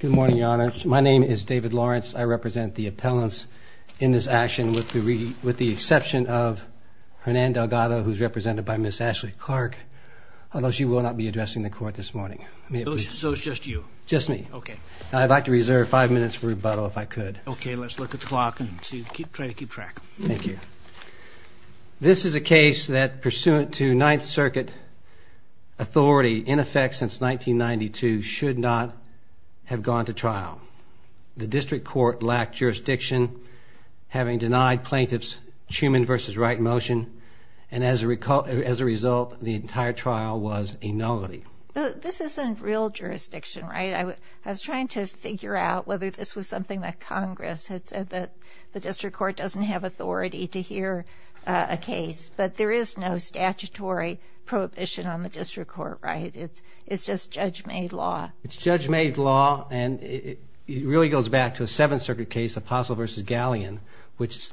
Good morning, Your Honor. My name is David Lawrence. I represent the appellants in this action with the exception of Hernan Delgado, who is represented by Ms. Ashley Clark, although she will not be addressing the court this morning. So it's just you? Just me. Okay. I'd like to reserve five minutes for rebuttal, if I could. Okay, let's look at the clock and try to keep track. Thank you. This is a case that, pursuant to Ninth Circuit authority, in effect since 1992, should not have gone to trial. The district court lacked jurisdiction, having denied plaintiffs' Truman v. Wright motion, and as a result, the entire trial was a nullity. This isn't real jurisdiction, right? I was trying to figure out whether this was something that Congress had said that the district court doesn't have authority to hear a case. But there is no statutory prohibition on the district court, right? It's just judge-made law. It's judge-made law, and it really goes back to a Seventh Circuit case, Apostle v. Galleon, which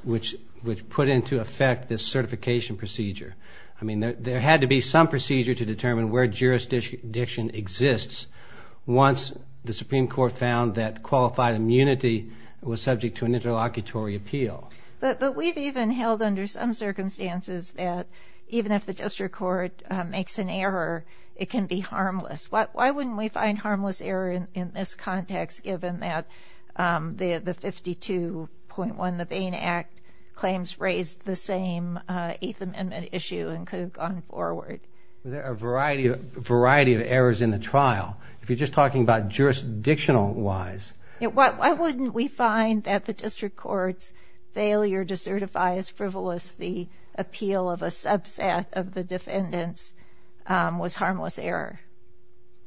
put into effect this certification procedure. I mean, there had to be some procedure to determine where jurisdiction exists once the Supreme Court found that qualified immunity was subject to an interlocutory appeal. But we've even held under some circumstances that even if the district court makes an error, it can be harmless. Why wouldn't we find harmless error in this context, given that the 52.1, the Bain Act, claims raised the same Eighth Amendment issue and could have gone forward? There are a variety of errors in the trial. If you're just talking about jurisdictional-wise... Why wouldn't we find that the district court's failure to certify as frivolous the appeal of a subset of the defendants was harmless error?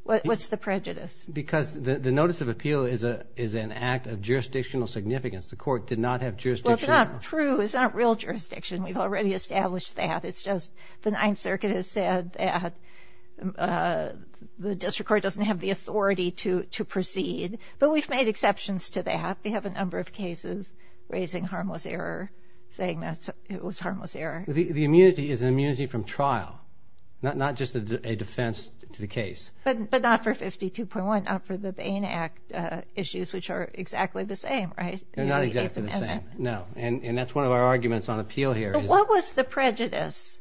What's the prejudice? Because the notice of appeal is an act of jurisdictional significance. The court did not have jurisdiction... Well, it's not true. It's not real jurisdiction. We've already established that. It's just the Ninth Circuit has said that the district court doesn't have the authority to proceed. But we've made exceptions to that. We have a number of cases raising harmless error, saying that it was harmless error. The immunity is an immunity from trial, not just a defense to the case. But not for 52.1, not for the Bain Act issues, which are exactly the same, right? They're not exactly the same, no. And that's one of our arguments on appeal here. So what was the prejudice?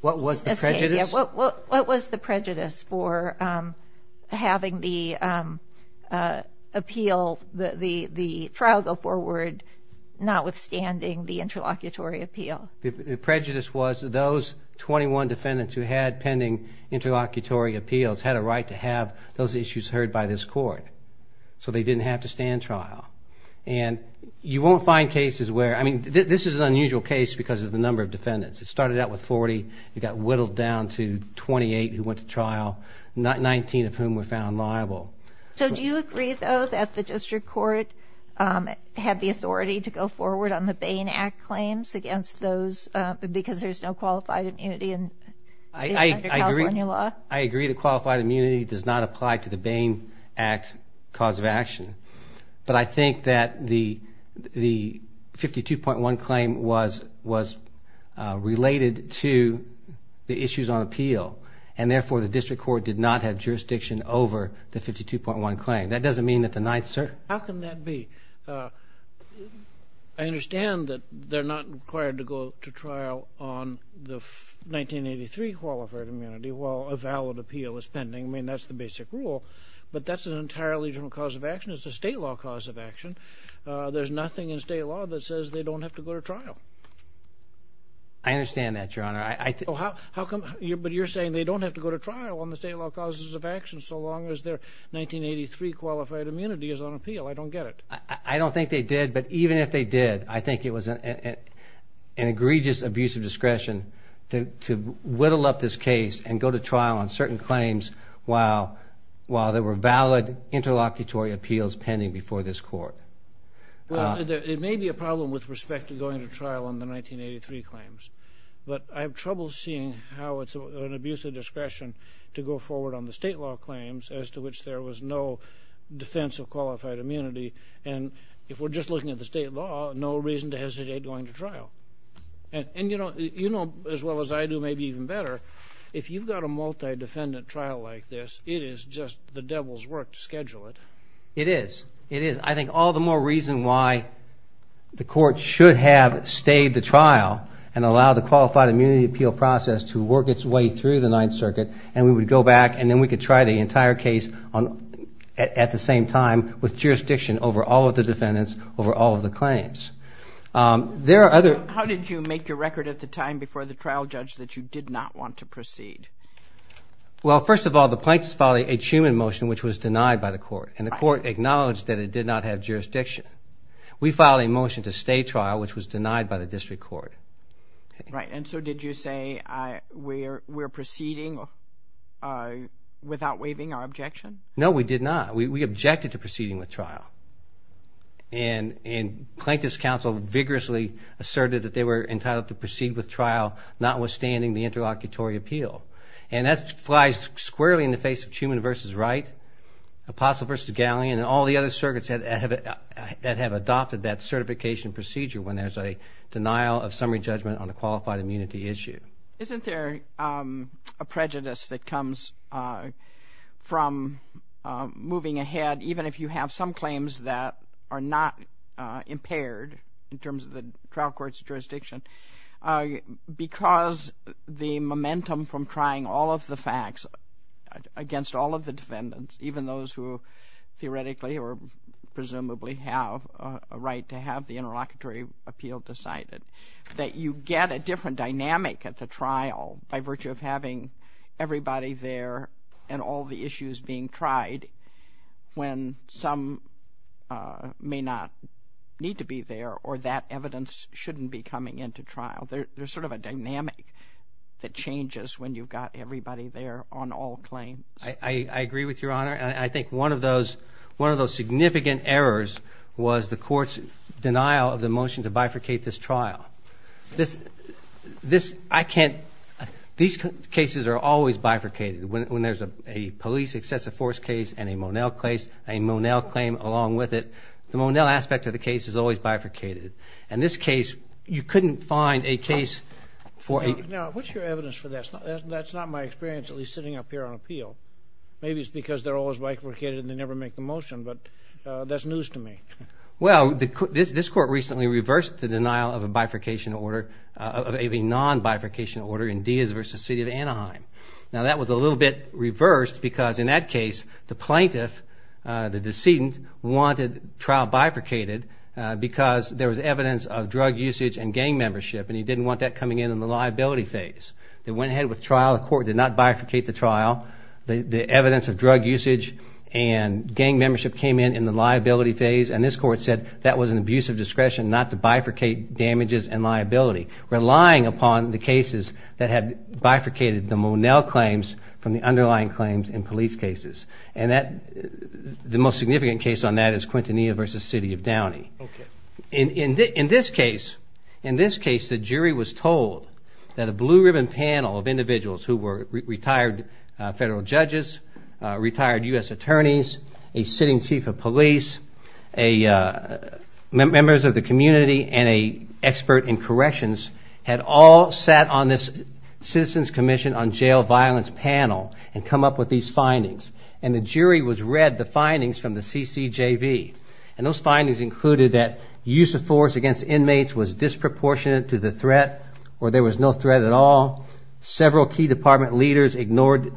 What was the prejudice? What was the prejudice for having the appeal, the trial go forward, notwithstanding the interlocutory appeal? The prejudice was those 21 defendants who had pending interlocutory appeals had a right to have those issues heard by this court. So they didn't have to stand trial. And you won't find cases where... I mean, this is an unusual case because of the number of defendants. It started out with 40. It got whittled down to 28 who went to trial, 19 of whom were found liable. So do you agree, though, that the district court had the authority to go forward on the Bain Act claims against those, because there's no qualified immunity under California law? I agree the qualified immunity does not apply to the Bain Act cause of action. But I think that the 52.1 claim was related to the issues on appeal, and therefore the district court did not have jurisdiction over the 52.1 claim. That doesn't mean that the Ninth Circuit... How can that be? I understand that they're not required to go to trial on the 1983 qualified immunity while a valid appeal is pending. I mean, that's the basic rule, but that's an entirely different cause of action. It's a state law cause of action. There's nothing in state law that says they don't have to go to trial. I understand that, Your Honor. But you're saying they don't have to go to trial on the state law causes of action so long as their 1983 qualified immunity is on appeal. I don't get it. I don't think they did, but even if they did, I think it was an egregious abuse of discretion to whittle up this case and go to trial on certain claims while there were valid interlocutory appeals pending before this court. It may be a problem with respect to going to trial on the 1983 claims, but I have trouble seeing how it's an abuse of discretion to go forward on the state law claims as to which there was no defense of qualified immunity. And if we're just looking at the state law, no reason to hesitate going to trial. And you know as well as I do, maybe even better, if you've got a multi-defendant trial like this, it is just the devil's work to schedule it. It is. It is. I think all the more reason why the court should have stayed the trial and allowed the qualified immunity appeal process to work its way through the Ninth Circuit and we would go back and then we could try the entire case at the same time with jurisdiction over all of the defendants, over all of the claims. There are other... How did you make your record at the time before the trial judge that you did not want to proceed? Well, first of all, the plaintiffs filed a Truman motion which was denied by the court, and the court acknowledged that it did not have jurisdiction. We filed a motion to stay trial which was denied by the district court. Right, and so did you say we're proceeding without waiving our objection? No, we did not. We objected to proceeding with trial, and Plaintiffs' Council vigorously asserted that they were entitled to proceed with trial, notwithstanding the interlocutory appeal. And that flies squarely in the face of Truman v. Wright, Apostle v. Gallien and all the other circuits that have adopted that certification procedure when there's a denial of summary judgment on a qualified immunity issue. Isn't there a prejudice that comes from moving ahead, even if you have some claims that are not impaired in terms of the trial court's jurisdiction, because the momentum from trying all of the facts against all of the defendants, even those who theoretically or presumably have a right to have the interlocutory appeal decided, that you get a different dynamic at the trial by virtue of having everybody there and all the issues being tried when some may not need to be there or that evidence shouldn't be coming into trial. There's sort of a dynamic that changes when you've got everybody there on all claims. I agree with Your Honor, and I think one of those significant errors was the court's denial of the motion to bifurcate this trial. These cases are always bifurcated. When there's a police excessive force case and a Monell case, a Monell claim along with it, the Monell aspect of the case is always bifurcated. In this case, you couldn't find a case for a... Now, what's your evidence for that? That's not my experience, at least sitting up here on appeal. Maybe it's because they're always bifurcated and they never make the motion, but that's news to me. Well, this court recently reversed the denial of a bifurcation order, of a non-bifurcation order in Diaz v. City of Anaheim. Now, that was a little bit reversed because in that case, the plaintiff, the decedent, wanted the trial bifurcated because there was evidence of drug usage and gang membership, and he didn't want that coming in in the liability phase. They went ahead with trial. The court did not bifurcate the trial. The evidence of drug usage and gang membership came in in the liability phase, and this court said that was an abuse of discretion not to bifurcate damages and liability, relying upon the cases that had bifurcated the Monell claims from the underlying claims in police cases. And the most significant case on that is Quintanilla v. City of Downey. In this case, the jury was told that a blue-ribbon panel of individuals who were retired federal judges, retired U.S. attorneys, a sitting chief of police, members of the community, and an expert in corrections had all sat on this Citizens Commission on Jail Violence panel and come up with these findings, and the jury read the findings from the CCJV, and those findings included that use of force against inmates was disproportionate to the threat or there was no threat at all, several key department leaders ignored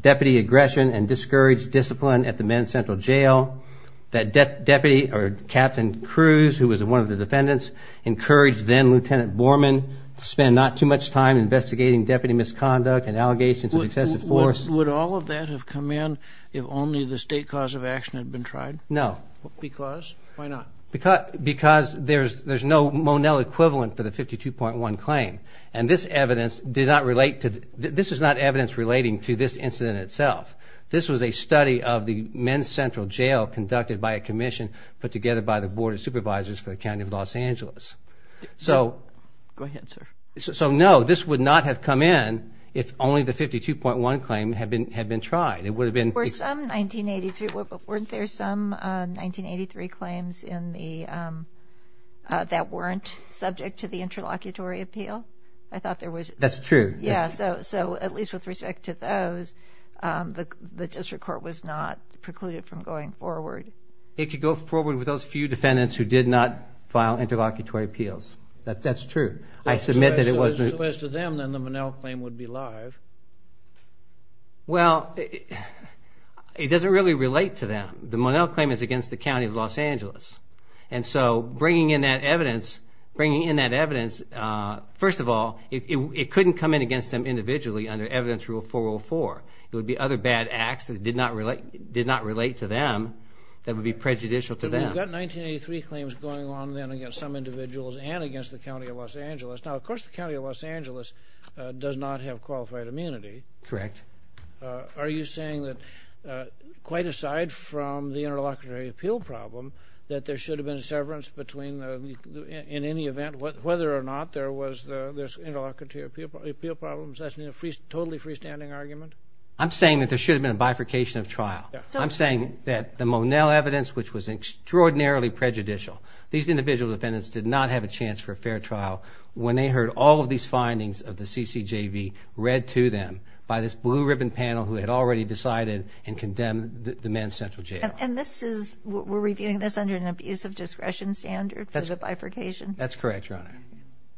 deputy aggression and discouraged discipline at the Men's Central Jail, that Deputy or Captain Cruz, who was one of the defendants, encouraged then-Lieutenant Borman to spend not too much time investigating deputy misconduct and allegations of excessive force. Would all of that have come in if only the state cause of action had been tried? No. Because? Why not? Because there's no Monell equivalent for the 52.1 claim, and this is not evidence relating to this incident itself. This was a study of the Men's Central Jail conducted by a commission put together by the Board of Supervisors for the County of Los Angeles. Go ahead, sir. So no, this would not have come in if only the 52.1 claim had been tried. Weren't there some 1983 claims that weren't subject to the interlocutory appeal? I thought there was. That's true. Yeah, so at least with respect to those, the district court was not precluded from going forward. It could go forward with those few defendants who did not file interlocutory appeals. That's true. I submit that it wasn't. So as to them, then the Monell claim would be live. Well, it doesn't really relate to them. The Monell claim is against the County of Los Angeles. And so bringing in that evidence, first of all, it couldn't come in against them individually under Evidence Rule 404. It would be other bad acts that did not relate to them that would be prejudicial to them. We've got 1983 claims going on then against some individuals and against the County of Los Angeles. Now, of course, the County of Los Angeles does not have qualified immunity. Correct. Are you saying that, quite aside from the interlocutory appeal problem, that there should have been a severance in any event, whether or not there was this interlocutory appeal problem? That's a totally freestanding argument? I'm saying that there should have been a bifurcation of trial. I'm saying that the Monell evidence, which was extraordinarily prejudicial, these individual defendants did not have a chance for a fair trial when they heard all of these findings of the CCJV read to them by this blue-ribbon panel who had already decided and condemned the men's central jail. And we're reviewing this under an abuse of discretion standard for the bifurcation? That's correct, Your Honor.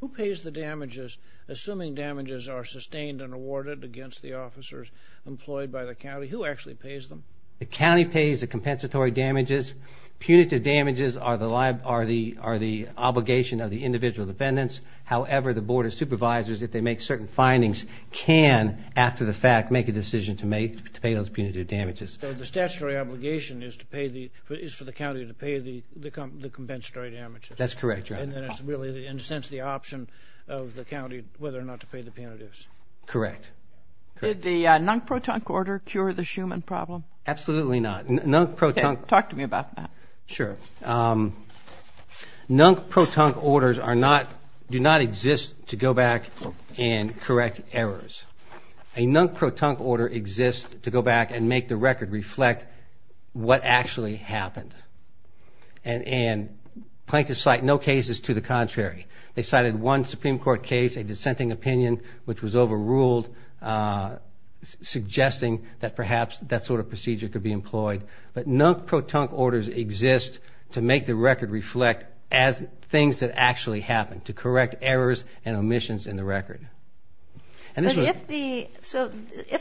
Who pays the damages, assuming damages are sustained and awarded against the officers employed by the county? Who actually pays them? The county pays the compensatory damages. Punitive damages are the obligation of the individual defendants. However, the Board of Supervisors, if they make certain findings, can, after the fact, make a decision to pay those punitive damages. So the statutory obligation is for the county to pay the compensatory damages? That's correct, Your Honor. And then it's really, in a sense, the option of the county whether or not to pay the punitives? Correct. Did the non-protonc order cure the Schumann problem? Absolutely not. Talk to me about that. Sure. Non-protonc orders do not exist to go back and correct errors. A non-protonc order exists to go back and make the record reflect what actually happened. And plaintiffs cite no cases to the contrary. They cited one Supreme Court case, a dissenting opinion, which was overruled, suggesting that perhaps that sort of procedure could be employed. But non-protonc orders exist to make the record reflect things that actually happened, to correct errors and omissions in the record. So if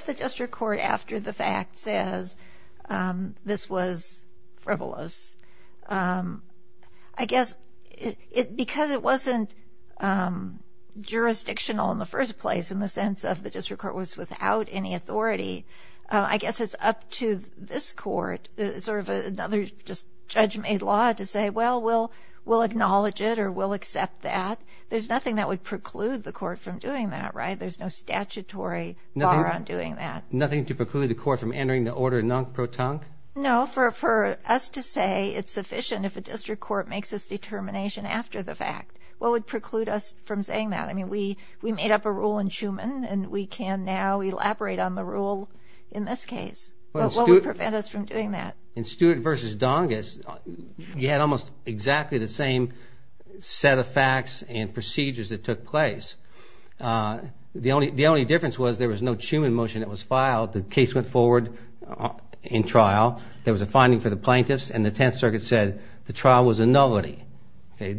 the district court, after the fact, says this was frivolous, I guess because it wasn't jurisdictional in the first place, in the sense of the district court was without any authority, I guess it's up to this court, sort of another just judge-made law, to say, well, we'll acknowledge it or we'll accept that. There's nothing that would preclude the court from doing that, right? There's no statutory bar on doing that. Nothing to preclude the court from entering the order non-protonc? No. For us to say it's sufficient if a district court makes its determination after the fact, what would preclude us from saying that? I mean, we made up a rule in Schuman, and we can now elaborate on the rule in this case. What would prevent us from doing that? In Stewart v. Dongus, you had almost exactly the same set of facts and procedures that took place. The only difference was there was no Schuman motion that was filed. The case went forward in trial. There was a finding for the plaintiffs, and the Tenth Circuit said the trial was a nullity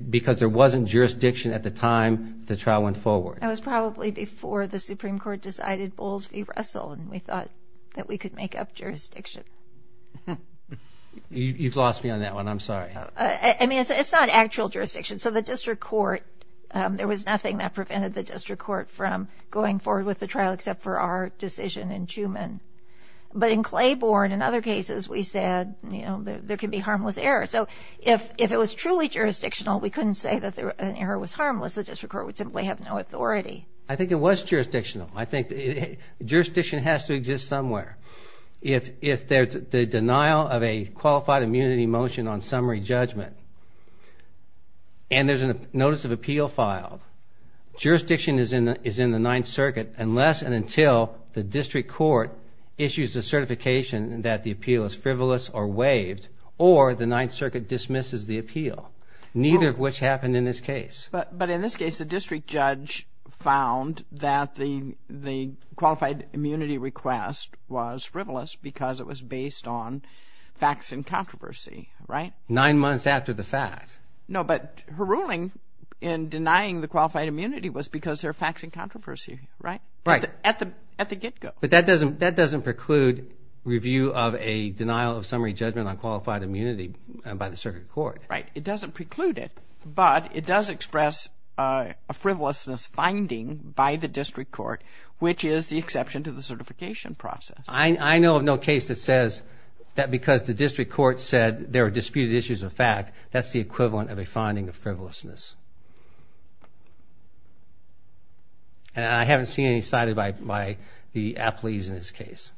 because there wasn't jurisdiction at the time the trial went forward. That was probably before the Supreme Court decided Bowles v. Russell, and we thought that we could make up jurisdiction. You've lost me on that one. I'm sorry. I mean, it's not actual jurisdiction. So the district court, there was nothing that prevented the district court from going forward with the trial except for our decision in Schuman. But in Claiborne and other cases, we said, you know, there can be harmless error. So if it was truly jurisdictional, we couldn't say that an error was harmless. The district court would simply have no authority. I think it was jurisdictional. I think jurisdiction has to exist somewhere. If there's the denial of a qualified immunity motion on summary judgment and there's a notice of appeal filed, jurisdiction is in the Ninth Circuit unless and until the district court issues a certification that the appeal is frivolous or waived or the Ninth Circuit dismisses the appeal, neither of which happened in this case. But in this case, the district judge found that the qualified immunity request was frivolous because it was based on facts and controversy, right? Nine months after the fact. No, but her ruling in denying the qualified immunity was because there are facts and controversy, right? Right. At the get-go. But that doesn't preclude review of a denial of summary judgment on qualified immunity by the circuit court. Right. It doesn't preclude it, but it does express a frivolousness finding by the district court, which is the exception to the certification process. I know of no case that says that because the district court said there are disputed issues of fact, that's the equivalent of a finding of frivolousness. And I haven't seen any cited by the appellees in this case.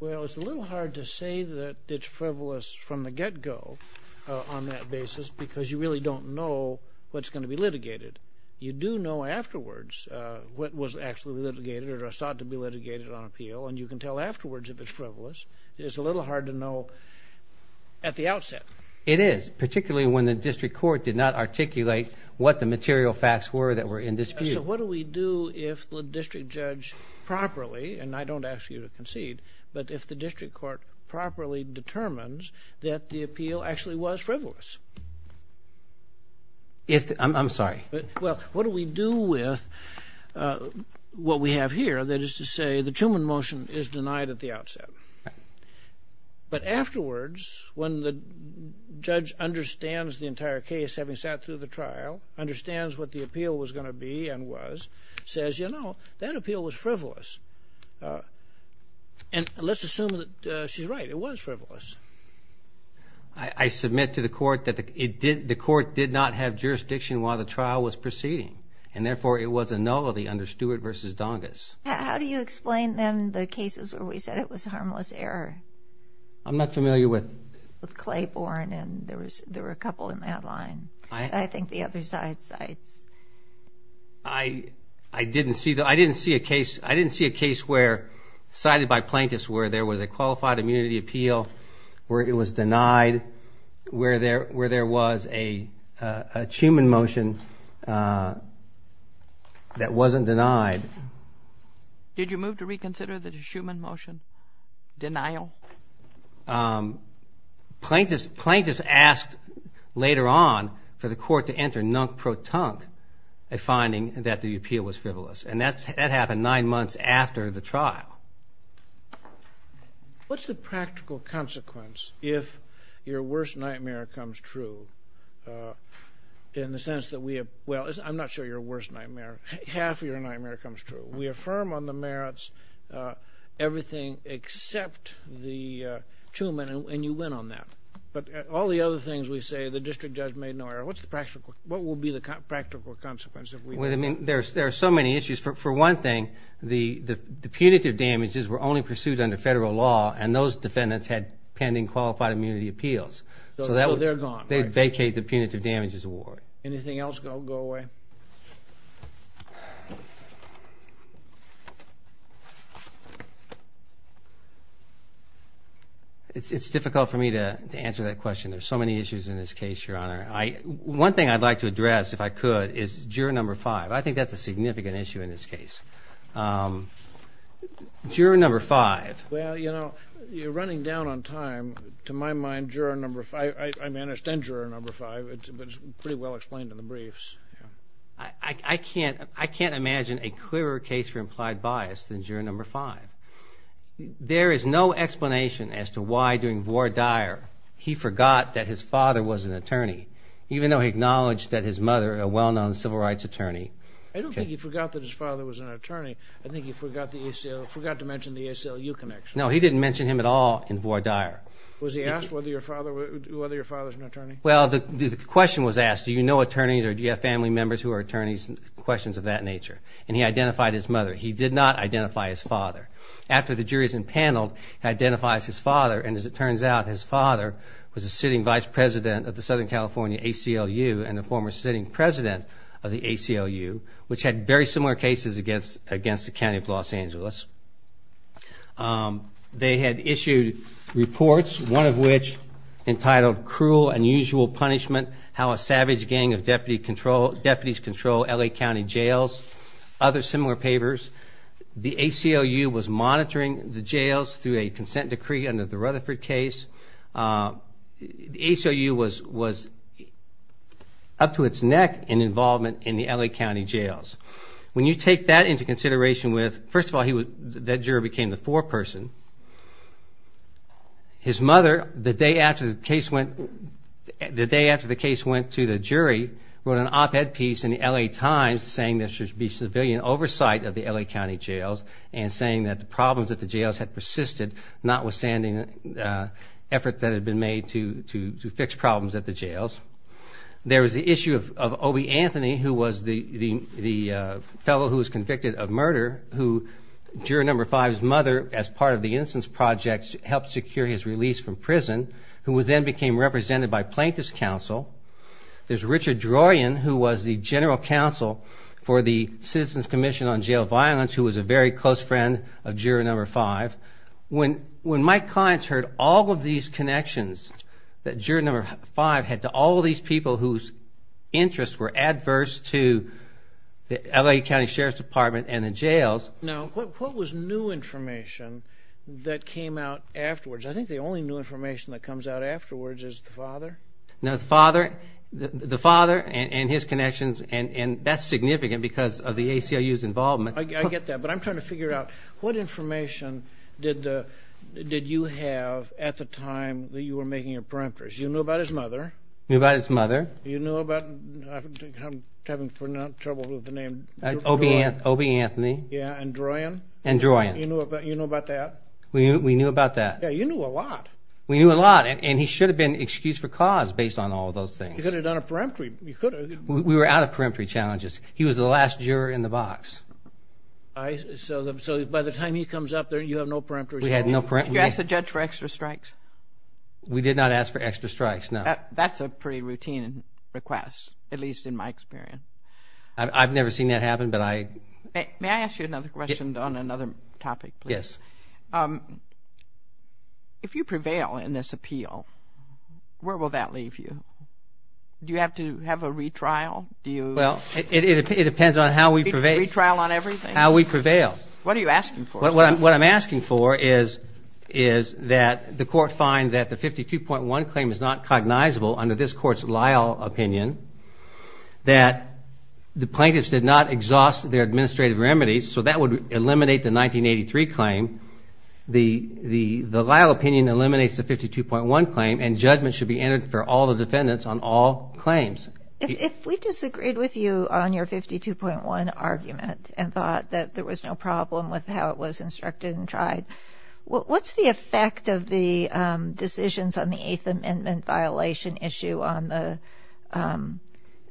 Well, it's a little hard to say that it's frivolous from the get-go on that basis because you really don't know what's going to be litigated. You do know afterwards what was actually litigated or sought to be litigated on appeal, and you can tell afterwards if it's frivolous. It's a little hard to know at the outset. It is, particularly when the district court did not articulate what the material facts were that were in dispute. So what do we do if the district judge properly, and I don't ask you to concede, but if the district court properly determines that the appeal actually was frivolous? I'm sorry. Well, what do we do with what we have here, that is to say the Truman motion is denied at the outset? Right. But afterwards, when the judge understands the entire case, having sat through the trial, understands what the appeal was going to be and was, says, you know, that appeal was frivolous. And let's assume that she's right. It was frivolous. I submit to the court that the court did not have jurisdiction while the trial was proceeding, How do you explain, then, the cases where we said it was harmless error? I'm not familiar with. With Claiborne, and there were a couple in that line. I think the other side cites. I didn't see a case where, cited by plaintiffs, where there was a qualified immunity appeal, where it was denied, where there was a Truman motion that wasn't denied. Did you move to reconsider the Truman motion? Denial? Plaintiffs asked later on for the court to enter nunc pro tunc, a finding that the appeal was frivolous. And that happened nine months after the trial. What's the practical consequence if your worst nightmare comes true? In the sense that we have, well, I'm not sure your worst nightmare. Half of your nightmare comes true. We affirm on the merits everything except the Truman, and you win on that. But all the other things we say, the district judge made no error. What's the practical, what will be the practical consequence if we win? Well, I mean, there are so many issues. For one thing, the punitive damages were only pursued under federal law, and those defendants had pending qualified immunity appeals. So they're gone. They vacate the punitive damages award. Anything else go away? It's difficult for me to answer that question. There are so many issues in this case, Your Honor. One thing I'd like to address, if I could, is juror number five. I think that's a significant issue in this case. Juror number five. Well, you know, you're running down on time. To my mind, juror number five, I understand juror number five, but it's pretty well explained in the briefs. I can't imagine a clearer case for implied bias than juror number five. There is no explanation as to why, during Ward Dyer, he forgot that his father was an attorney, even though he acknowledged that his mother, a well-known civil rights attorney. I don't think he forgot that his father was an attorney. I think he forgot to mention the ACLU connection. No, he didn't mention him at all in Ward Dyer. Was he asked whether your father was an attorney? Well, the question was asked, do you know attorneys or do you have family members who are attorneys, questions of that nature, and he identified his mother. He did not identify his father. After the jury is impaneled, he identifies his father, and as it turns out, his father was a sitting vice president of the Southern California ACLU and a former sitting president of the ACLU, which had very similar cases against the County of Los Angeles. They had issued reports, one of which entitled Cruel Unusual Punishment, How a Savage Gang of Deputies Control L.A. County Jails, other similar papers. The ACLU was monitoring the jails through a consent decree under the Rutherford case. The ACLU was up to its neck in involvement in the L.A. County jails. When you take that into consideration with, first of all, that jury became the foreperson. His mother, the day after the case went to the jury, wrote an op-ed piece in the L.A. Times saying there should be civilian oversight of the L.A. County jails and saying that the problems at the jails had persisted, notwithstanding efforts that had been made to fix problems at the jails. There was the issue of Obie Anthony, who was the fellow who was convicted of murder, who, jury number five's mother, as part of the instance project, helped secure his release from prison, who then became represented by plaintiff's counsel. There's Richard Drorian, who was the general counsel for the Citizens Commission on Jail Violence, who was a very close friend of jury number five. When my clients heard all of these connections that jury number five had to all of these people whose interests were adverse to the L.A. County Sheriff's Department and the jails. Now, what was new information that came out afterwards? I think the only new information that comes out afterwards is the father. No, the father and his connections, and that's significant because of the ACLU's involvement. I get that, but I'm trying to figure out what information did you have at the time that you were making your peremptories. You knew about his mother. Knew about his mother. You knew about, I'm having trouble with the name, Obie Anthony. Yeah, and Drorian. And Drorian. You knew about that. We knew about that. Yeah, you knew a lot. We knew a lot, and he should have been excused for cause based on all of those things. You could have done a peremptory. We were out of peremptory challenges. He was the last juror in the box. So by the time he comes up there, you have no peremptories. We had no peremptories. Did you ask the judge for extra strikes? We did not ask for extra strikes, no. That's a pretty routine request, at least in my experience. I've never seen that happen, but I— May I ask you another question on another topic, please? Yes. If you prevail in this appeal, where will that leave you? Do you have to have a retrial? Well, it depends on how we prevail. Retrial on everything? How we prevail. What are you asking for? What I'm asking for is that the court find that the 52.1 claim is not cognizable under this court's Lyle opinion, that the plaintiffs did not exhaust their administrative remedies, so that would eliminate the 1983 claim. The Lyle opinion eliminates the 52.1 claim, and judgment should be entered for all the defendants on all claims. If we disagreed with you on your 52.1 argument and thought that there was no problem with how it was instructed and tried, what's the effect of the decisions on the Eighth Amendment violation issue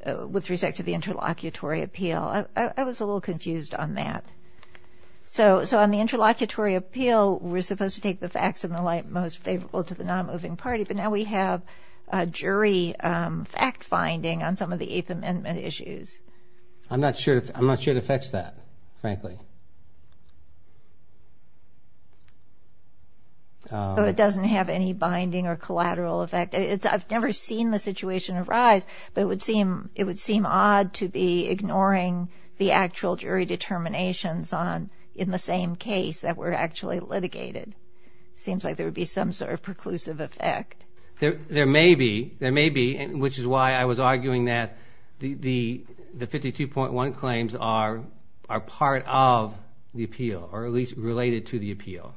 with respect to the interlocutory appeal? I was a little confused on that. So on the interlocutory appeal, we're supposed to take the facts in the light most favorable to the nonmoving party, but now we have jury fact-finding on some of the Eighth Amendment issues. I'm not sure it affects that, frankly. So it doesn't have any binding or collateral effect? I've never seen the situation arise, but it would seem odd to be ignoring the actual jury determinations in the same case that were actually litigated. It seems like there would be some sort of preclusive effect. There may be. There may be, which is why I was arguing that the 52.1 claims are part of the appeal, or at least related to the appeal.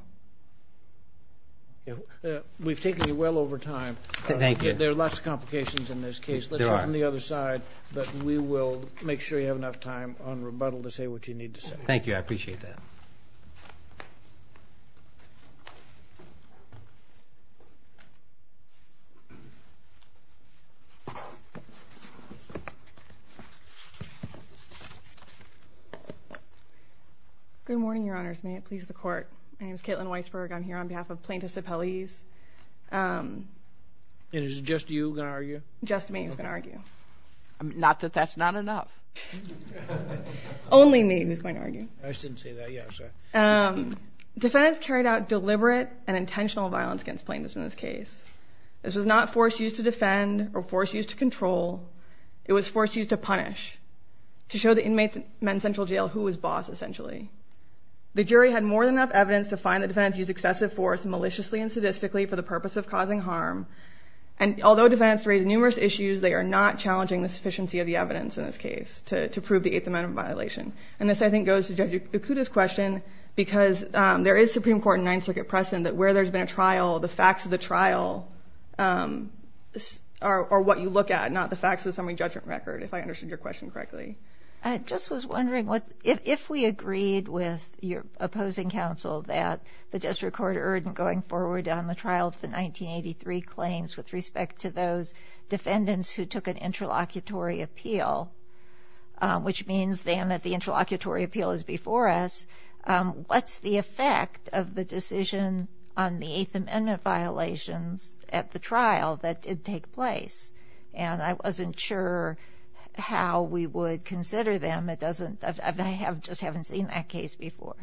We've taken you well over time. Thank you. There are lots of complications in this case. There are. Let's go from the other side, but we will make sure you have enough time on rebuttal to say what you need to say. Thank you. I appreciate that. Good morning, Your Honors. May it please the Court. My name is Caitlin Weisberg. I'm here on behalf of plaintiffs' appellees. And is it just you who's going to argue? Just me who's going to argue. Not that that's not enough. Only me who's going to argue. I just didn't see that. Yeah, sorry. Defendants carried out deliberate and intentional violence against plaintiffs in this case. This was not force used to defend or force used to control. It was force used to punish, to show the inmates in Men's Central Jail who was boss, essentially. The jury had more than enough evidence to find that defendants used excessive force, maliciously and sadistically, for the purpose of causing harm. And although defendants raised numerous issues, they are not challenging the sufficiency of the evidence in this case to prove the Eighth Amendment violation. And this, I think, goes to Judge Okuda's question, because there is Supreme Court and Ninth Circuit precedent that where there's been a trial, the facts of the trial are what you look at, not the facts of the summary judgment record, if I understood your question correctly. I just was wondering, if we agreed with your opposing counsel that the district court urdent going forward on the trial of the 1983 claims, with respect to those defendants who took an interlocutory appeal, which means, then, that the interlocutory appeal is before us, what's the effect of the decision on the Eighth Amendment violations at the trial that did take place? And I wasn't sure how we would consider them. I just haven't seen that case before.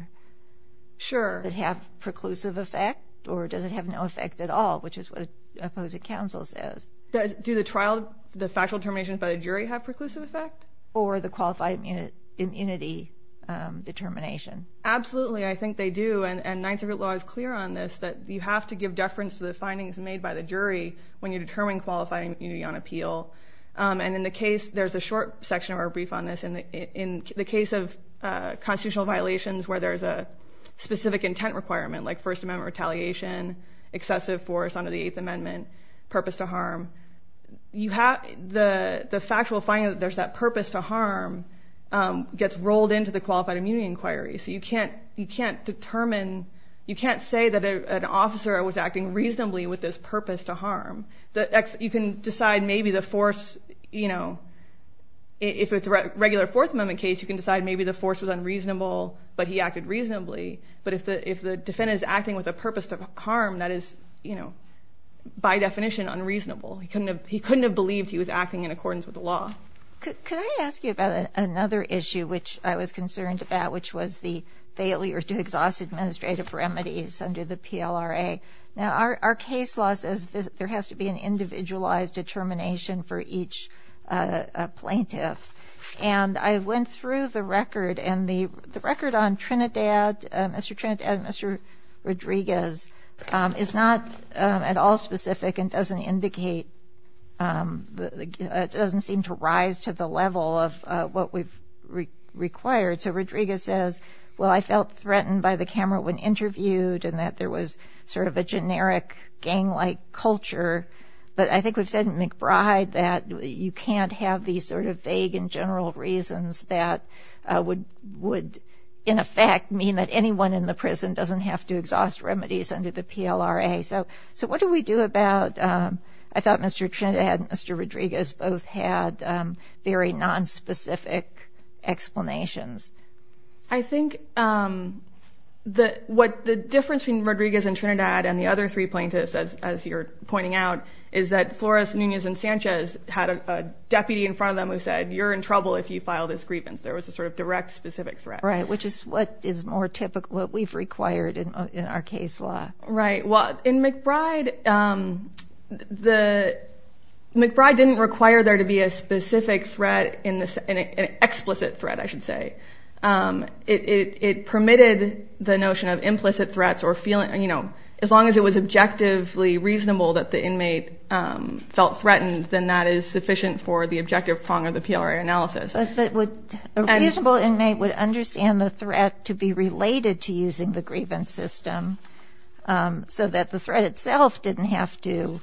Sure. Does it have a preclusive effect, or does it have no effect at all, which is what the opposing counsel says? Do the factual determinations by the jury have a preclusive effect? Or the qualified immunity determination? Absolutely, I think they do. And Ninth Circuit law is clear on this, that you have to give deference to the findings made by the jury when you determine qualified immunity on appeal. And in the case, there's a short section of our brief on this, in the case of constitutional violations where there's a specific intent requirement, like First Amendment retaliation, excessive force under the Eighth Amendment, purpose to harm, the factual finding that there's that purpose to harm gets rolled into the qualified immunity inquiry. So you can't say that an officer was acting reasonably with this purpose to harm. You can decide maybe the force, if it's a regular Fourth Amendment case, you can decide maybe the force was unreasonable, but he acted reasonably. But if the defendant is acting with a purpose to harm, that is, by definition, unreasonable. He couldn't have believed he was acting in accordance with the law. Could I ask you about another issue which I was concerned about, which was the failure to exhaust administrative remedies under the PLRA? Now, our case law says there has to be an individualized determination for each plaintiff. And I went through the record, and the record on Mr. Trinidad and Mr. Rodriguez is not at all specific and doesn't seem to rise to the level of what we've required. So Rodriguez says, well, I felt threatened by the camera when interviewed, and that there was sort of a generic gang-like culture. But I think we've said in McBride that you can't have these sort of vague and general reasons that would, in effect, mean that anyone in the prison doesn't have to exhaust remedies under the PLRA. Okay. So what do we do about – I thought Mr. Trinidad and Mr. Rodriguez both had very nonspecific explanations. I think the difference between Rodriguez and Trinidad and the other three plaintiffs, as you're pointing out, is that Flores, Nunez, and Sanchez had a deputy in front of them who said, you're in trouble if you file this grievance. There was a sort of direct, specific threat. Right, which is what is more typical – what we've required in our case law. Right. Well, in McBride, McBride didn't require there to be a specific threat, an explicit threat, I should say. It permitted the notion of implicit threats or feeling – as long as it was objectively reasonable that the inmate felt threatened, then that is sufficient for the objective prong of the PLRA analysis. A reasonable inmate would understand the threat to be related to using the grievance system so that the threat itself didn't have to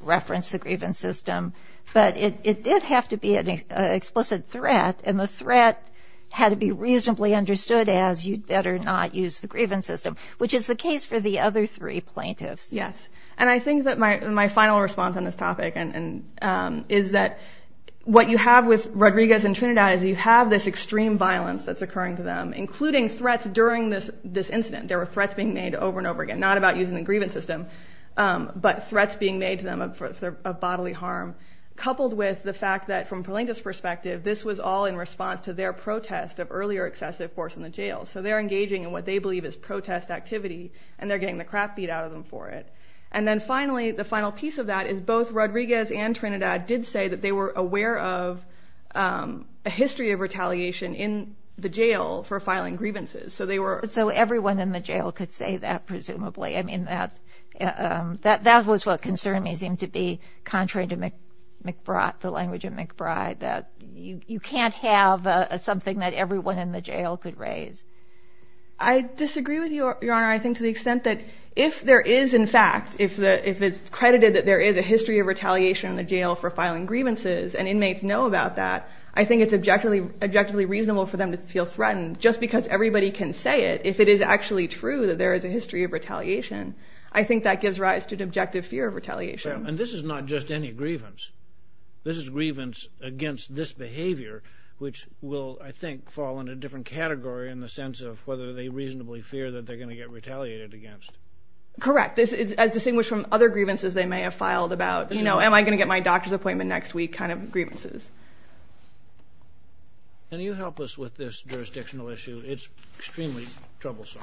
reference the grievance system, but it did have to be an explicit threat, and the threat had to be reasonably understood as you'd better not use the grievance system, which is the case for the other three plaintiffs. Yes, and I think that my final response on this topic is that what you have with Rodriguez and Trinidad is you have this extreme violence that's occurring to them, including threats during this incident. There were threats being made over and over again, not about using the grievance system, but threats being made to them of bodily harm, coupled with the fact that, from Plaintiff's perspective, this was all in response to their protest of earlier excessive force in the jail. So they're engaging in what they believe is protest activity, and they're getting the crap beat out of them for it. And then finally, the final piece of that is both Rodriguez and Trinidad did say that they were aware of a history of retaliation in the jail for filing grievances. So everyone in the jail could say that, presumably. I mean, that was what concerned me, seemed to be contrary to the language of McBride, that you can't have something that everyone in the jail could raise. I disagree with you, Your Honor, I think to the extent that if there is, in fact, if it's credited that there is a history of retaliation in the jail for filing grievances, and inmates know about that, I think it's objectively reasonable for them to feel threatened. Just because everybody can say it, if it is actually true that there is a history of retaliation, I think that gives rise to an objective fear of retaliation. And this is not just any grievance. This is grievance against this behavior, which will, I think, fall in a different category in the sense of whether they reasonably fear that they're going to get retaliated against. Correct. As distinguished from other grievances they may have filed about, you know, am I going to get my doctor's appointment next week kind of grievances. Can you help us with this jurisdictional issue? It's extremely troublesome.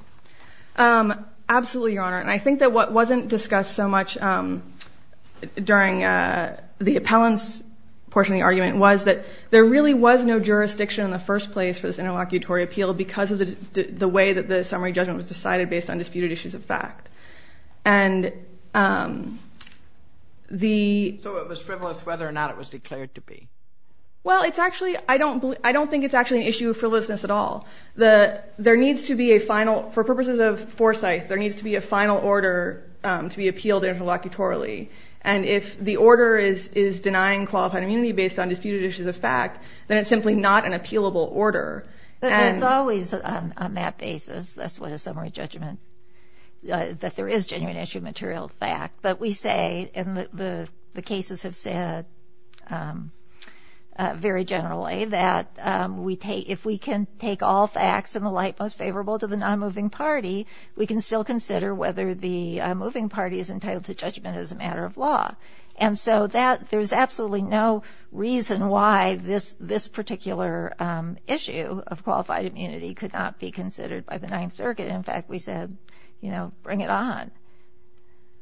Absolutely, Your Honor. And I think that what wasn't discussed so much during the appellants portion of the argument was that there really was no jurisdiction in the first place for this interlocutory appeal because of the way that the summary judgment was decided based on disputed issues of fact. So it was frivolous whether or not it was declared to be. Well, it's actually, I don't think it's actually an issue of frivolousness at all. There needs to be a final, for purposes of foresight, there needs to be a final order to be appealed interlocutorily. And if the order is denying qualified immunity based on disputed issues of fact, then it's simply not an appealable order. It's always on that basis, that's what a summary judgment, that there is genuine issue material fact. But we say, and the cases have said very generally, that if we can take all facts in the light most favorable to the non-moving party, we can still consider whether the moving party is entitled to judgment as a matter of law. And so there's absolutely no reason why this particular issue of qualified immunity could not be considered by the Ninth Circuit. In fact, we said, you know, bring it on.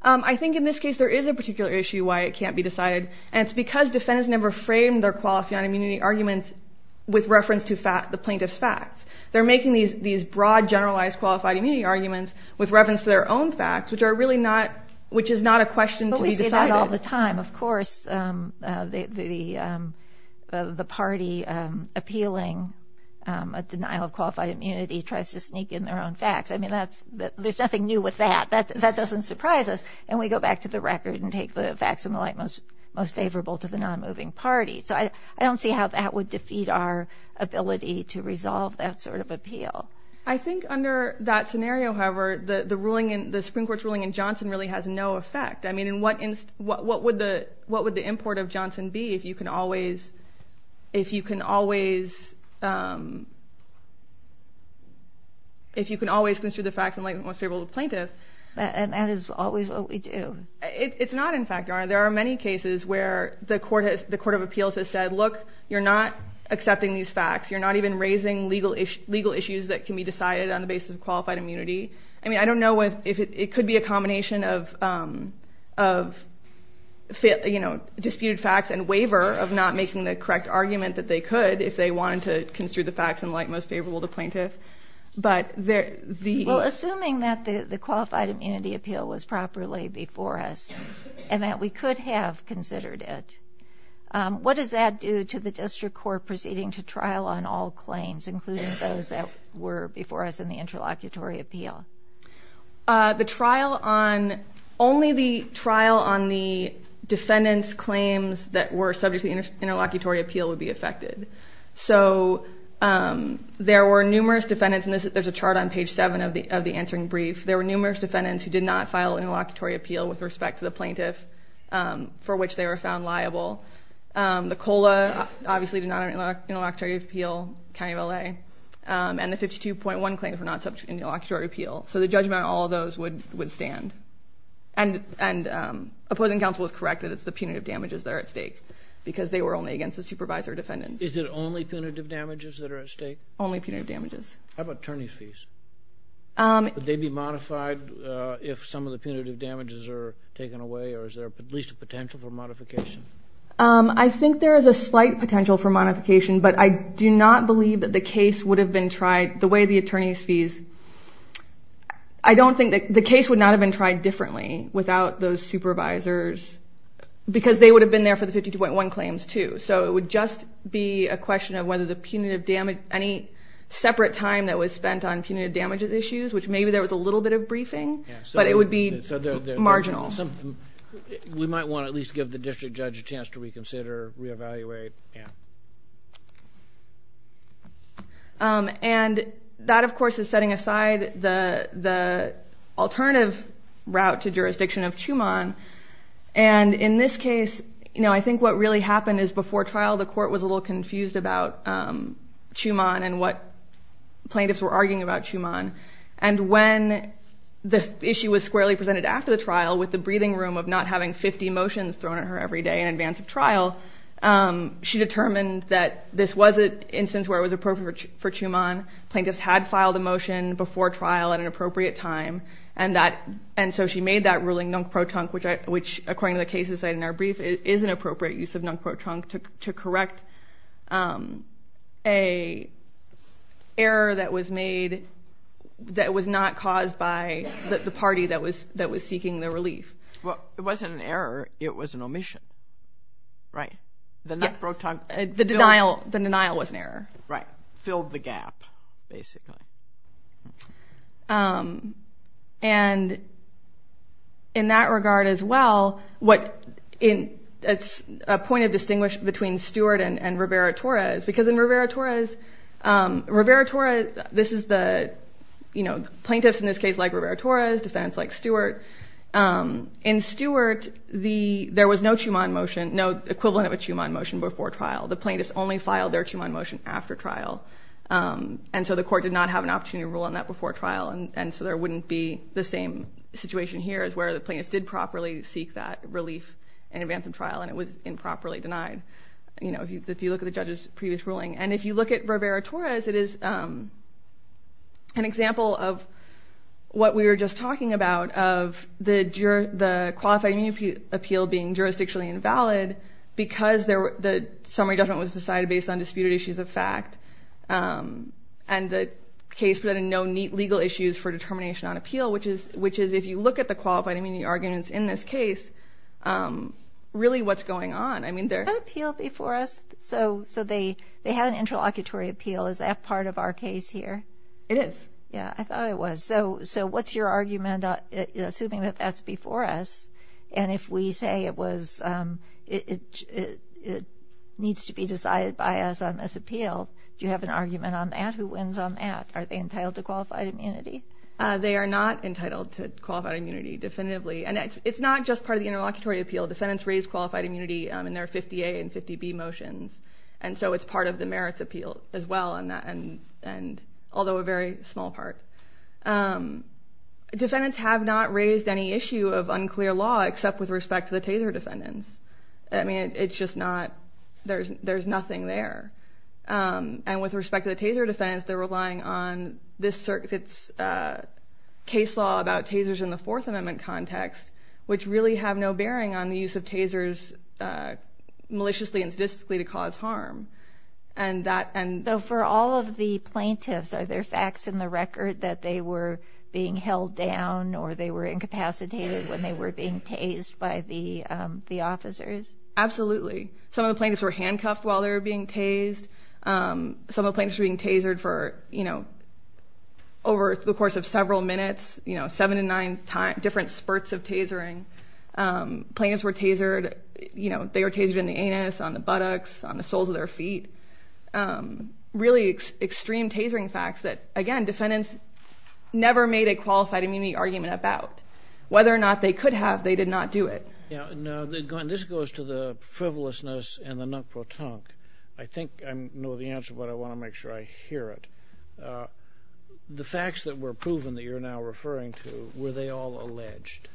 I think in this case there is a particular issue why it can't be decided. And it's because defendants never frame their qualified immunity arguments with reference to the plaintiff's facts. They're making these broad, generalized qualified immunity arguments with reference to their own facts, which is not a question to be decided. But we say that all the time. Of course, the party appealing a denial of qualified immunity tries to sneak in their own facts. I mean, there's nothing new with that. That doesn't surprise us. And we go back to the record and take the facts in the light most favorable to the non-moving party. So I don't see how that would defeat our ability to resolve that sort of appeal. I think under that scenario, however, the Supreme Court's ruling in Johnson really has no effect. I mean, what would the import of Johnson be if you can always consider the facts in the light most favorable to the plaintiff? And that is always what we do. It's not in fact, Your Honor. There are many cases where the court of appeals has said, look, you're not accepting these facts. You're not even raising legal issues that can be decided on the basis of qualified immunity. I mean, I don't know if it could be a combination of disputed facts and waiver of not making the correct argument that they could if they wanted to construe the facts in the light most favorable to plaintiff. Well, assuming that the qualified immunity appeal was properly before us and that we could have considered it, what does that do to the district court proceeding to trial on all claims, including those that were before us in the interlocutory appeal? Only the trial on the defendant's claims that were subject to the interlocutory appeal would be affected. So there were numerous defendants, and there's a chart on page 7 of the answering brief. There were numerous defendants who did not file an interlocutory appeal with respect to the plaintiff for which they were found liable. The COLA obviously did not have an interlocutory appeal, County of LA. And the 52.1 claims were not subject to interlocutory appeal. So the judgment on all of those would stand. And opposing counsel is correct that it's the punitive damages that are at stake because they were only against the supervisor defendants. Is it only punitive damages that are at stake? Only punitive damages. How about attorneys' fees? Would they be modified if some of the punitive damages are taken away, or is there at least a potential for modification? I think there is a slight potential for modification, but I do not believe that the case would have been tried the way the attorneys' fees. I don't think that the case would not have been tried differently without those supervisors because they would have been there for the 52.1 claims too. So it would just be a question of whether the punitive damage, any separate time that was spent on punitive damages issues, which maybe there was a little bit of briefing, but it would be marginal. We might want to at least give the district judge a chance to reconsider, re-evaluate. And that, of course, is setting aside the alternative route to jurisdiction of Chumon. And in this case, I think what really happened is before trial, the court was a little confused about Chumon and what plaintiffs were arguing about Chumon. And when the issue was squarely presented after the trial with the breathing room of not having 50 motions thrown at her every day in advance of trial, she determined that this was an instance where it was appropriate for Chumon. Plaintiffs had filed a motion before trial at an appropriate time. And so she made that ruling, nunk pro trunc, which, according to the cases in our brief, is an appropriate use of nunk pro trunc to correct an error that was made that was not caused by the party that was seeking the relief. Well, it wasn't an error. It was an omission, right? The nunk pro trunc. Yes. The denial was an error. Right. Filled the gap, basically. And in that regard as well, it's a point of distinguish between Stewart and Rivera-Torres because in Rivera-Torres, Rivera-Torres, this is the, you know, in Stewart, there was no equivalent of a Chumon motion before trial. The plaintiffs only filed their Chumon motion after trial. And so the court did not have an opportunity to rule on that before trial, and so there wouldn't be the same situation here as where the plaintiffs did properly seek that relief in advance of trial, and it was improperly denied, you know, if you look at the judge's previous ruling. And if you look at Rivera-Torres, it is an example of what we were just talking about of the Qualified Immunity Appeal being jurisdictionally invalid because the summary judgment was decided based on disputed issues of fact and the case presented no neat legal issues for determination on appeal, which is if you look at the Qualified Immunity arguments in this case, really what's going on? I mean, they're— They had an appeal before us, so they had an interlocutory appeal. Is that part of our case here? It is. Yeah, I thought it was. So what's your argument, assuming that that's before us, and if we say it was—it needs to be decided by us on this appeal, do you have an argument on that? Who wins on that? Are they entitled to qualified immunity? They are not entitled to qualified immunity definitively, and it's not just part of the interlocutory appeal. Defendants raise qualified immunity in their 50A and 50B motions, and so it's part of the merits appeal as well, although a very small part. Defendants have not raised any issue of unclear law except with respect to the taser defendants. I mean, it's just not—there's nothing there. And with respect to the taser defendants, they're relying on this circuit's case law about tasers in the Fourth Amendment context, which really have no bearing on the use of tasers maliciously and sadistically to cause harm. So for all of the plaintiffs, are there facts in the record that they were being held down or they were incapacitated when they were being tased by the officers? Absolutely. Some of the plaintiffs were handcuffed while they were being tased. Some of the plaintiffs were being tasered for over the course of several minutes, seven to nine different spurts of tasering. Plaintiffs were tasered—they were tasered in the anus, on the buttocks, on the soles of their feet. Really extreme tasering facts that, again, defendants never made a qualified immunity argument about. Whether or not they could have, they did not do it. Now, this goes to the frivolousness and the non-protonque. I think I know the answer, but I want to make sure I hear it. The facts that were proven that you're now referring to, were they all alleged?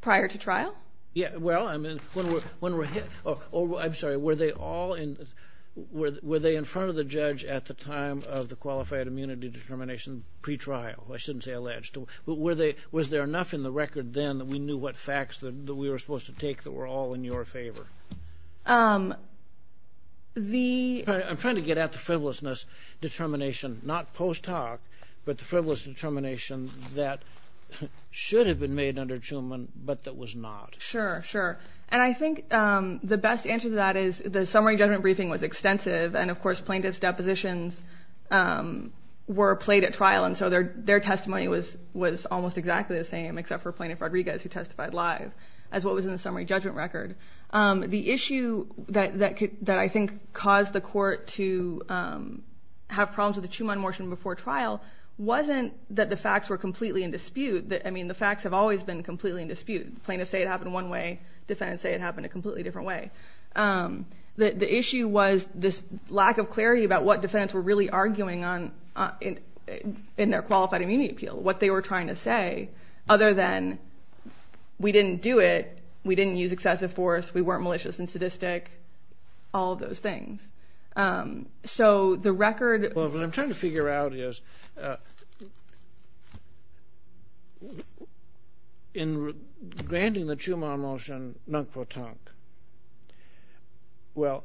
Prior to trial? Yeah, well, I mean, when we're—oh, I'm sorry. Were they all in—were they in front of the judge at the time of the qualified immunity determination pre-trial? I shouldn't say alleged. But were they—was there enough in the record then that we knew what facts that we were supposed to take that were all in your favor? The— I'm trying to get at the frivolousness determination, not post-talk, but the frivolous determination that should have been made under Truman, but that was not. Sure, sure. And I think the best answer to that is the summary judgment briefing was extensive, and, of course, plaintiffs' depositions were played at trial, and so their testimony was almost exactly the same, except for Plaintiff Rodriguez, who testified live, as what was in the summary judgment record. The issue that I think caused the court to have problems with the Truman motion before trial wasn't that the facts were completely in dispute. I mean, the facts have always been completely in dispute. Plaintiffs say it happened one way. Defendants say it happened a completely different way. The issue was this lack of clarity about what defendants were really arguing on in their qualified immunity appeal, what they were trying to say, other than we didn't do it, we didn't use excessive force, we weren't malicious and sadistic, all of those things. So the record— Well, what I'm trying to figure out is in granting the Truman motion non-quo-tunk, well,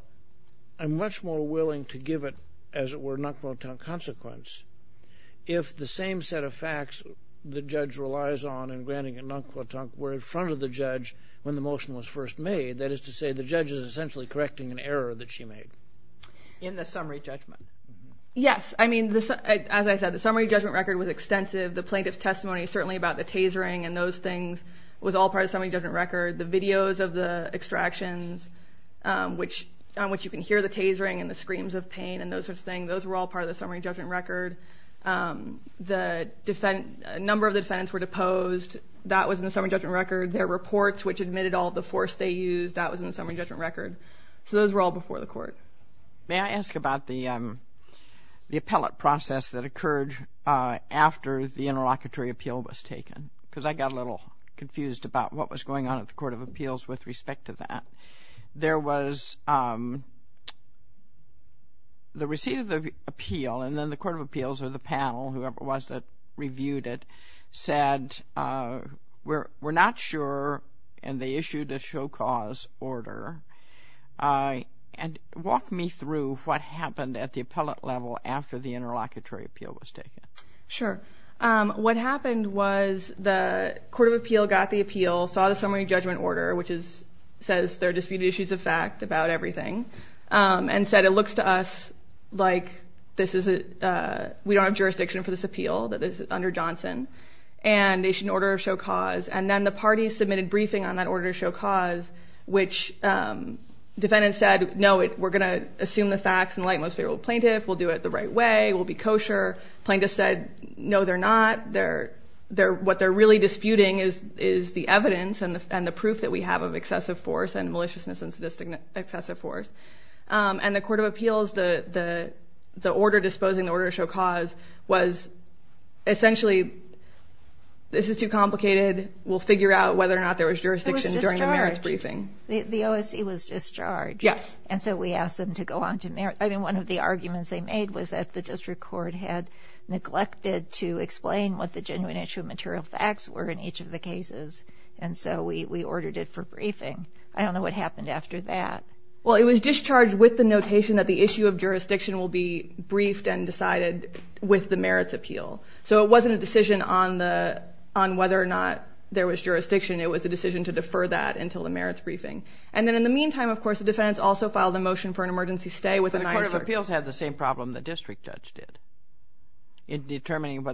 I'm much more willing to give it, as it were, non-quo-tunk consequence if the same set of facts the judge relies on in granting it non-quo-tunk were in front of the judge when the motion was first made. That is to say, the judge is essentially correcting an error that she made. In the summary judgment? Yes. I mean, as I said, the summary judgment record was extensive. The plaintiff's testimony, certainly about the tasering and those things, was all part of the summary judgment record. The videos of the extractions on which you can hear the tasering and the screams of pain and those sorts of things, those were all part of the summary judgment record. A number of the defendants were deposed. That was in the summary judgment record. Their reports, which admitted all of the force they used, that was in the summary judgment record. So those were all before the court. May I ask about the appellate process that occurred after the interlocutory appeal was taken? Because I got a little confused about what was going on at the Court of Appeals with respect to that. There was the receipt of the appeal, and then the Court of Appeals, or the panel, whoever it was that reviewed it, said we're not sure, and they issued a show cause order. And walk me through what happened at the appellate level after the interlocutory appeal was taken. Sure. What happened was the Court of Appeal got the appeal, saw the summary judgment order, which says there are disputed issues of fact about everything, and said it looks to us like we don't have jurisdiction for this appeal that is under Johnson, and they issued an order of show cause. And then the parties submitted briefing on that order of show cause, which defendants said, no, we're going to assume the facts and lighten what's favorable to the plaintiff. We'll do it the right way. We'll be kosher. Plaintiffs said, no, they're not. What they're really disputing is the evidence and the proof that we have of excessive force and maliciousness and sadistic excessive force. And the Court of Appeals, the order disposing, the order of show cause was essentially, this is too complicated. We'll figure out whether or not there was jurisdiction during the merits briefing. It was discharged. The OSC was discharged. Yes. And so we asked them to go on to merits. I mean, one of the arguments they made was that the district court had neglected to explain what the genuine issue of material facts were in each of the cases, and so we ordered it for briefing. I don't know what happened after that. Well, it was discharged with the notation that the issue of jurisdiction will be briefed and decided with the merits appeal. So it wasn't a decision on whether or not there was jurisdiction. It was a decision to defer that until the merits briefing. And then in the meantime, of course, the defendants also filed a motion for an emergency stay with the NYSERC. But the Court of Appeals had the same problem the district judge did in determining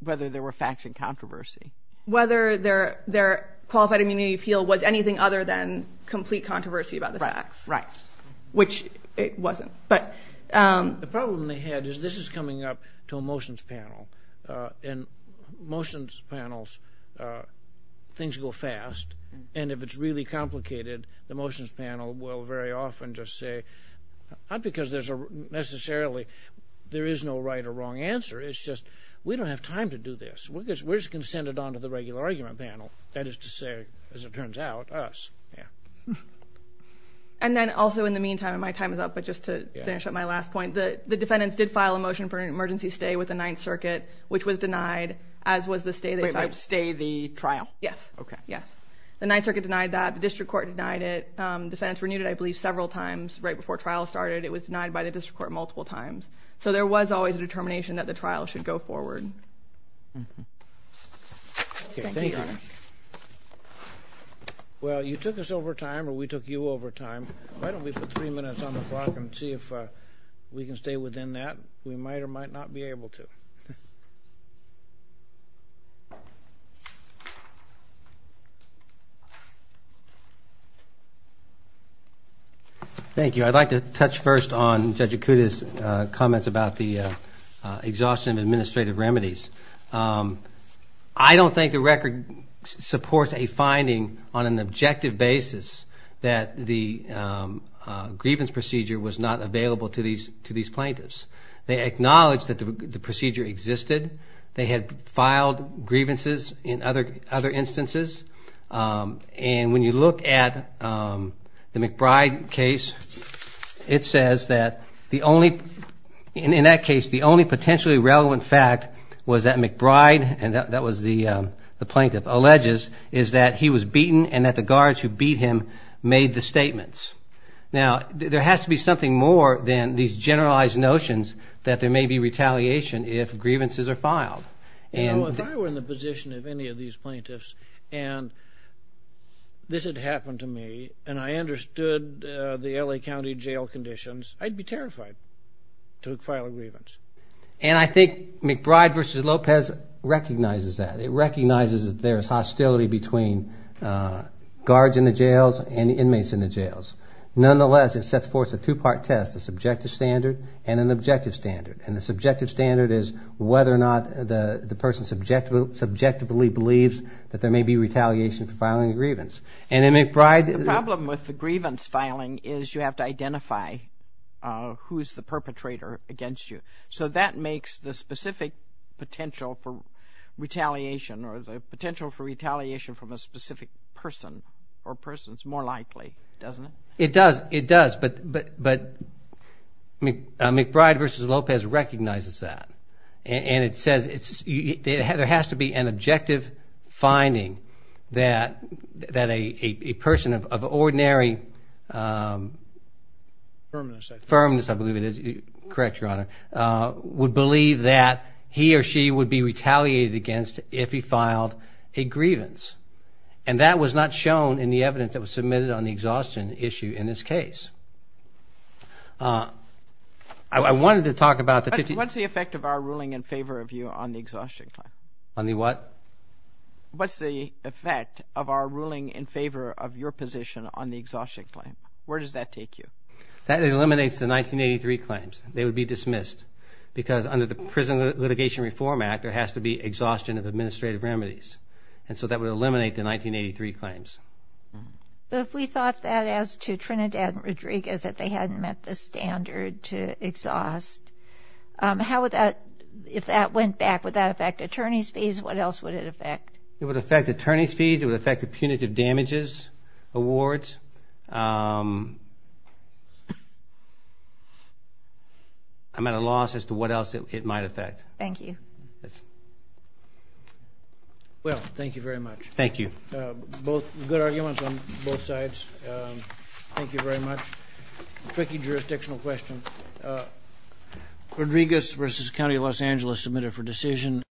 whether there were facts in controversy. Whether their qualified immunity appeal was anything other than complete controversy about the facts. Right. Which it wasn't. The problem they had is this is coming up to a motions panel, and motions panels, things go fast, and if it's really complicated, the motions panel will very often just say, not because necessarily there is no right or wrong answer, it's just we don't have time to do this. We're just going to send it on to the regular argument panel. That is to say, as it turns out, us. Yeah. And then also in the meantime, and my time is up, but just to finish up my last point, the defendants did file a motion for an emergency stay with the Ninth Circuit, which was denied, as was the stay they filed. Wait, wait, stay the trial? Yes. Okay. The Ninth Circuit denied that. The district court denied it. Defendants renewed it, I believe, several times right before trial started. It was denied by the district court multiple times. So there was always a determination that the trial should go forward. Thank you, Your Honor. Well, you took us over time, or we took you over time. Why don't we put three minutes on the clock and see if we can stay within that? We might or might not be able to. Thank you. I'd like to touch first on Judge Acuda's comments about the exhaustion of administrative remedies. I don't think the record supports a finding on an objective basis that the grievance procedure was not available to these plaintiffs. They acknowledged that the procedure existed. They had filed grievances in other instances. And when you look at the McBride case, it says that in that case the only potentially relevant fact was that McBride, and that was the plaintiff, alleges is that he was beaten and that the guards who beat him made the statements. Now, there has to be something more than these generalized notions that there may be retaliation if grievances are filed. You know, if I were in the position of any of these plaintiffs and this had happened to me and I understood the L.A. County jail conditions, I'd be terrified to file a grievance. And I think McBride v. Lopez recognizes that. It recognizes that there is hostility between guards in the jails and inmates in the jails. Nonetheless, it sets forth a two-part test, a subjective standard and an objective standard. And the subjective standard is whether or not the person subjectively believes that there may be retaliation for filing a grievance. And in McBride... The problem with the grievance filing is you have to identify who is the perpetrator against you. So that makes the specific potential for retaliation or the potential for retaliation from a specific person or persons more likely, doesn't it? It does, it does. But McBride v. Lopez recognizes that. And it says there has to be an objective finding that a person of ordinary... Firmness, I think. Firmness, I believe it is. Correct, Your Honor. Would believe that he or she would be retaliated against if he filed a grievance. And that was not shown in the evidence that was submitted on the exhaustion issue in this case. I wanted to talk about the... What's the effect of our ruling in favor of you on the exhaustion claim? On the what? What's the effect of our ruling in favor of your position on the exhaustion claim? Where does that take you? That eliminates the 1983 claims. They would be dismissed. Because under the Prison Litigation Reform Act, there has to be exhaustion of administrative remedies. And so that would eliminate the 1983 claims. But if we thought that as to Trinidad and Rodriguez, that they hadn't met the standard to exhaust, how would that... If that went back, would that affect attorney's fees? What else would it affect? It would affect attorney's fees. It would affect the punitive damages awards. I'm at a loss as to what else it might affect. Thank you. Yes. Well, thank you very much. Thank you. Good arguments on both sides. Thank you very much. Tricky jurisdictional question. Rodriguez v. County of Los Angeles, submitted for decision.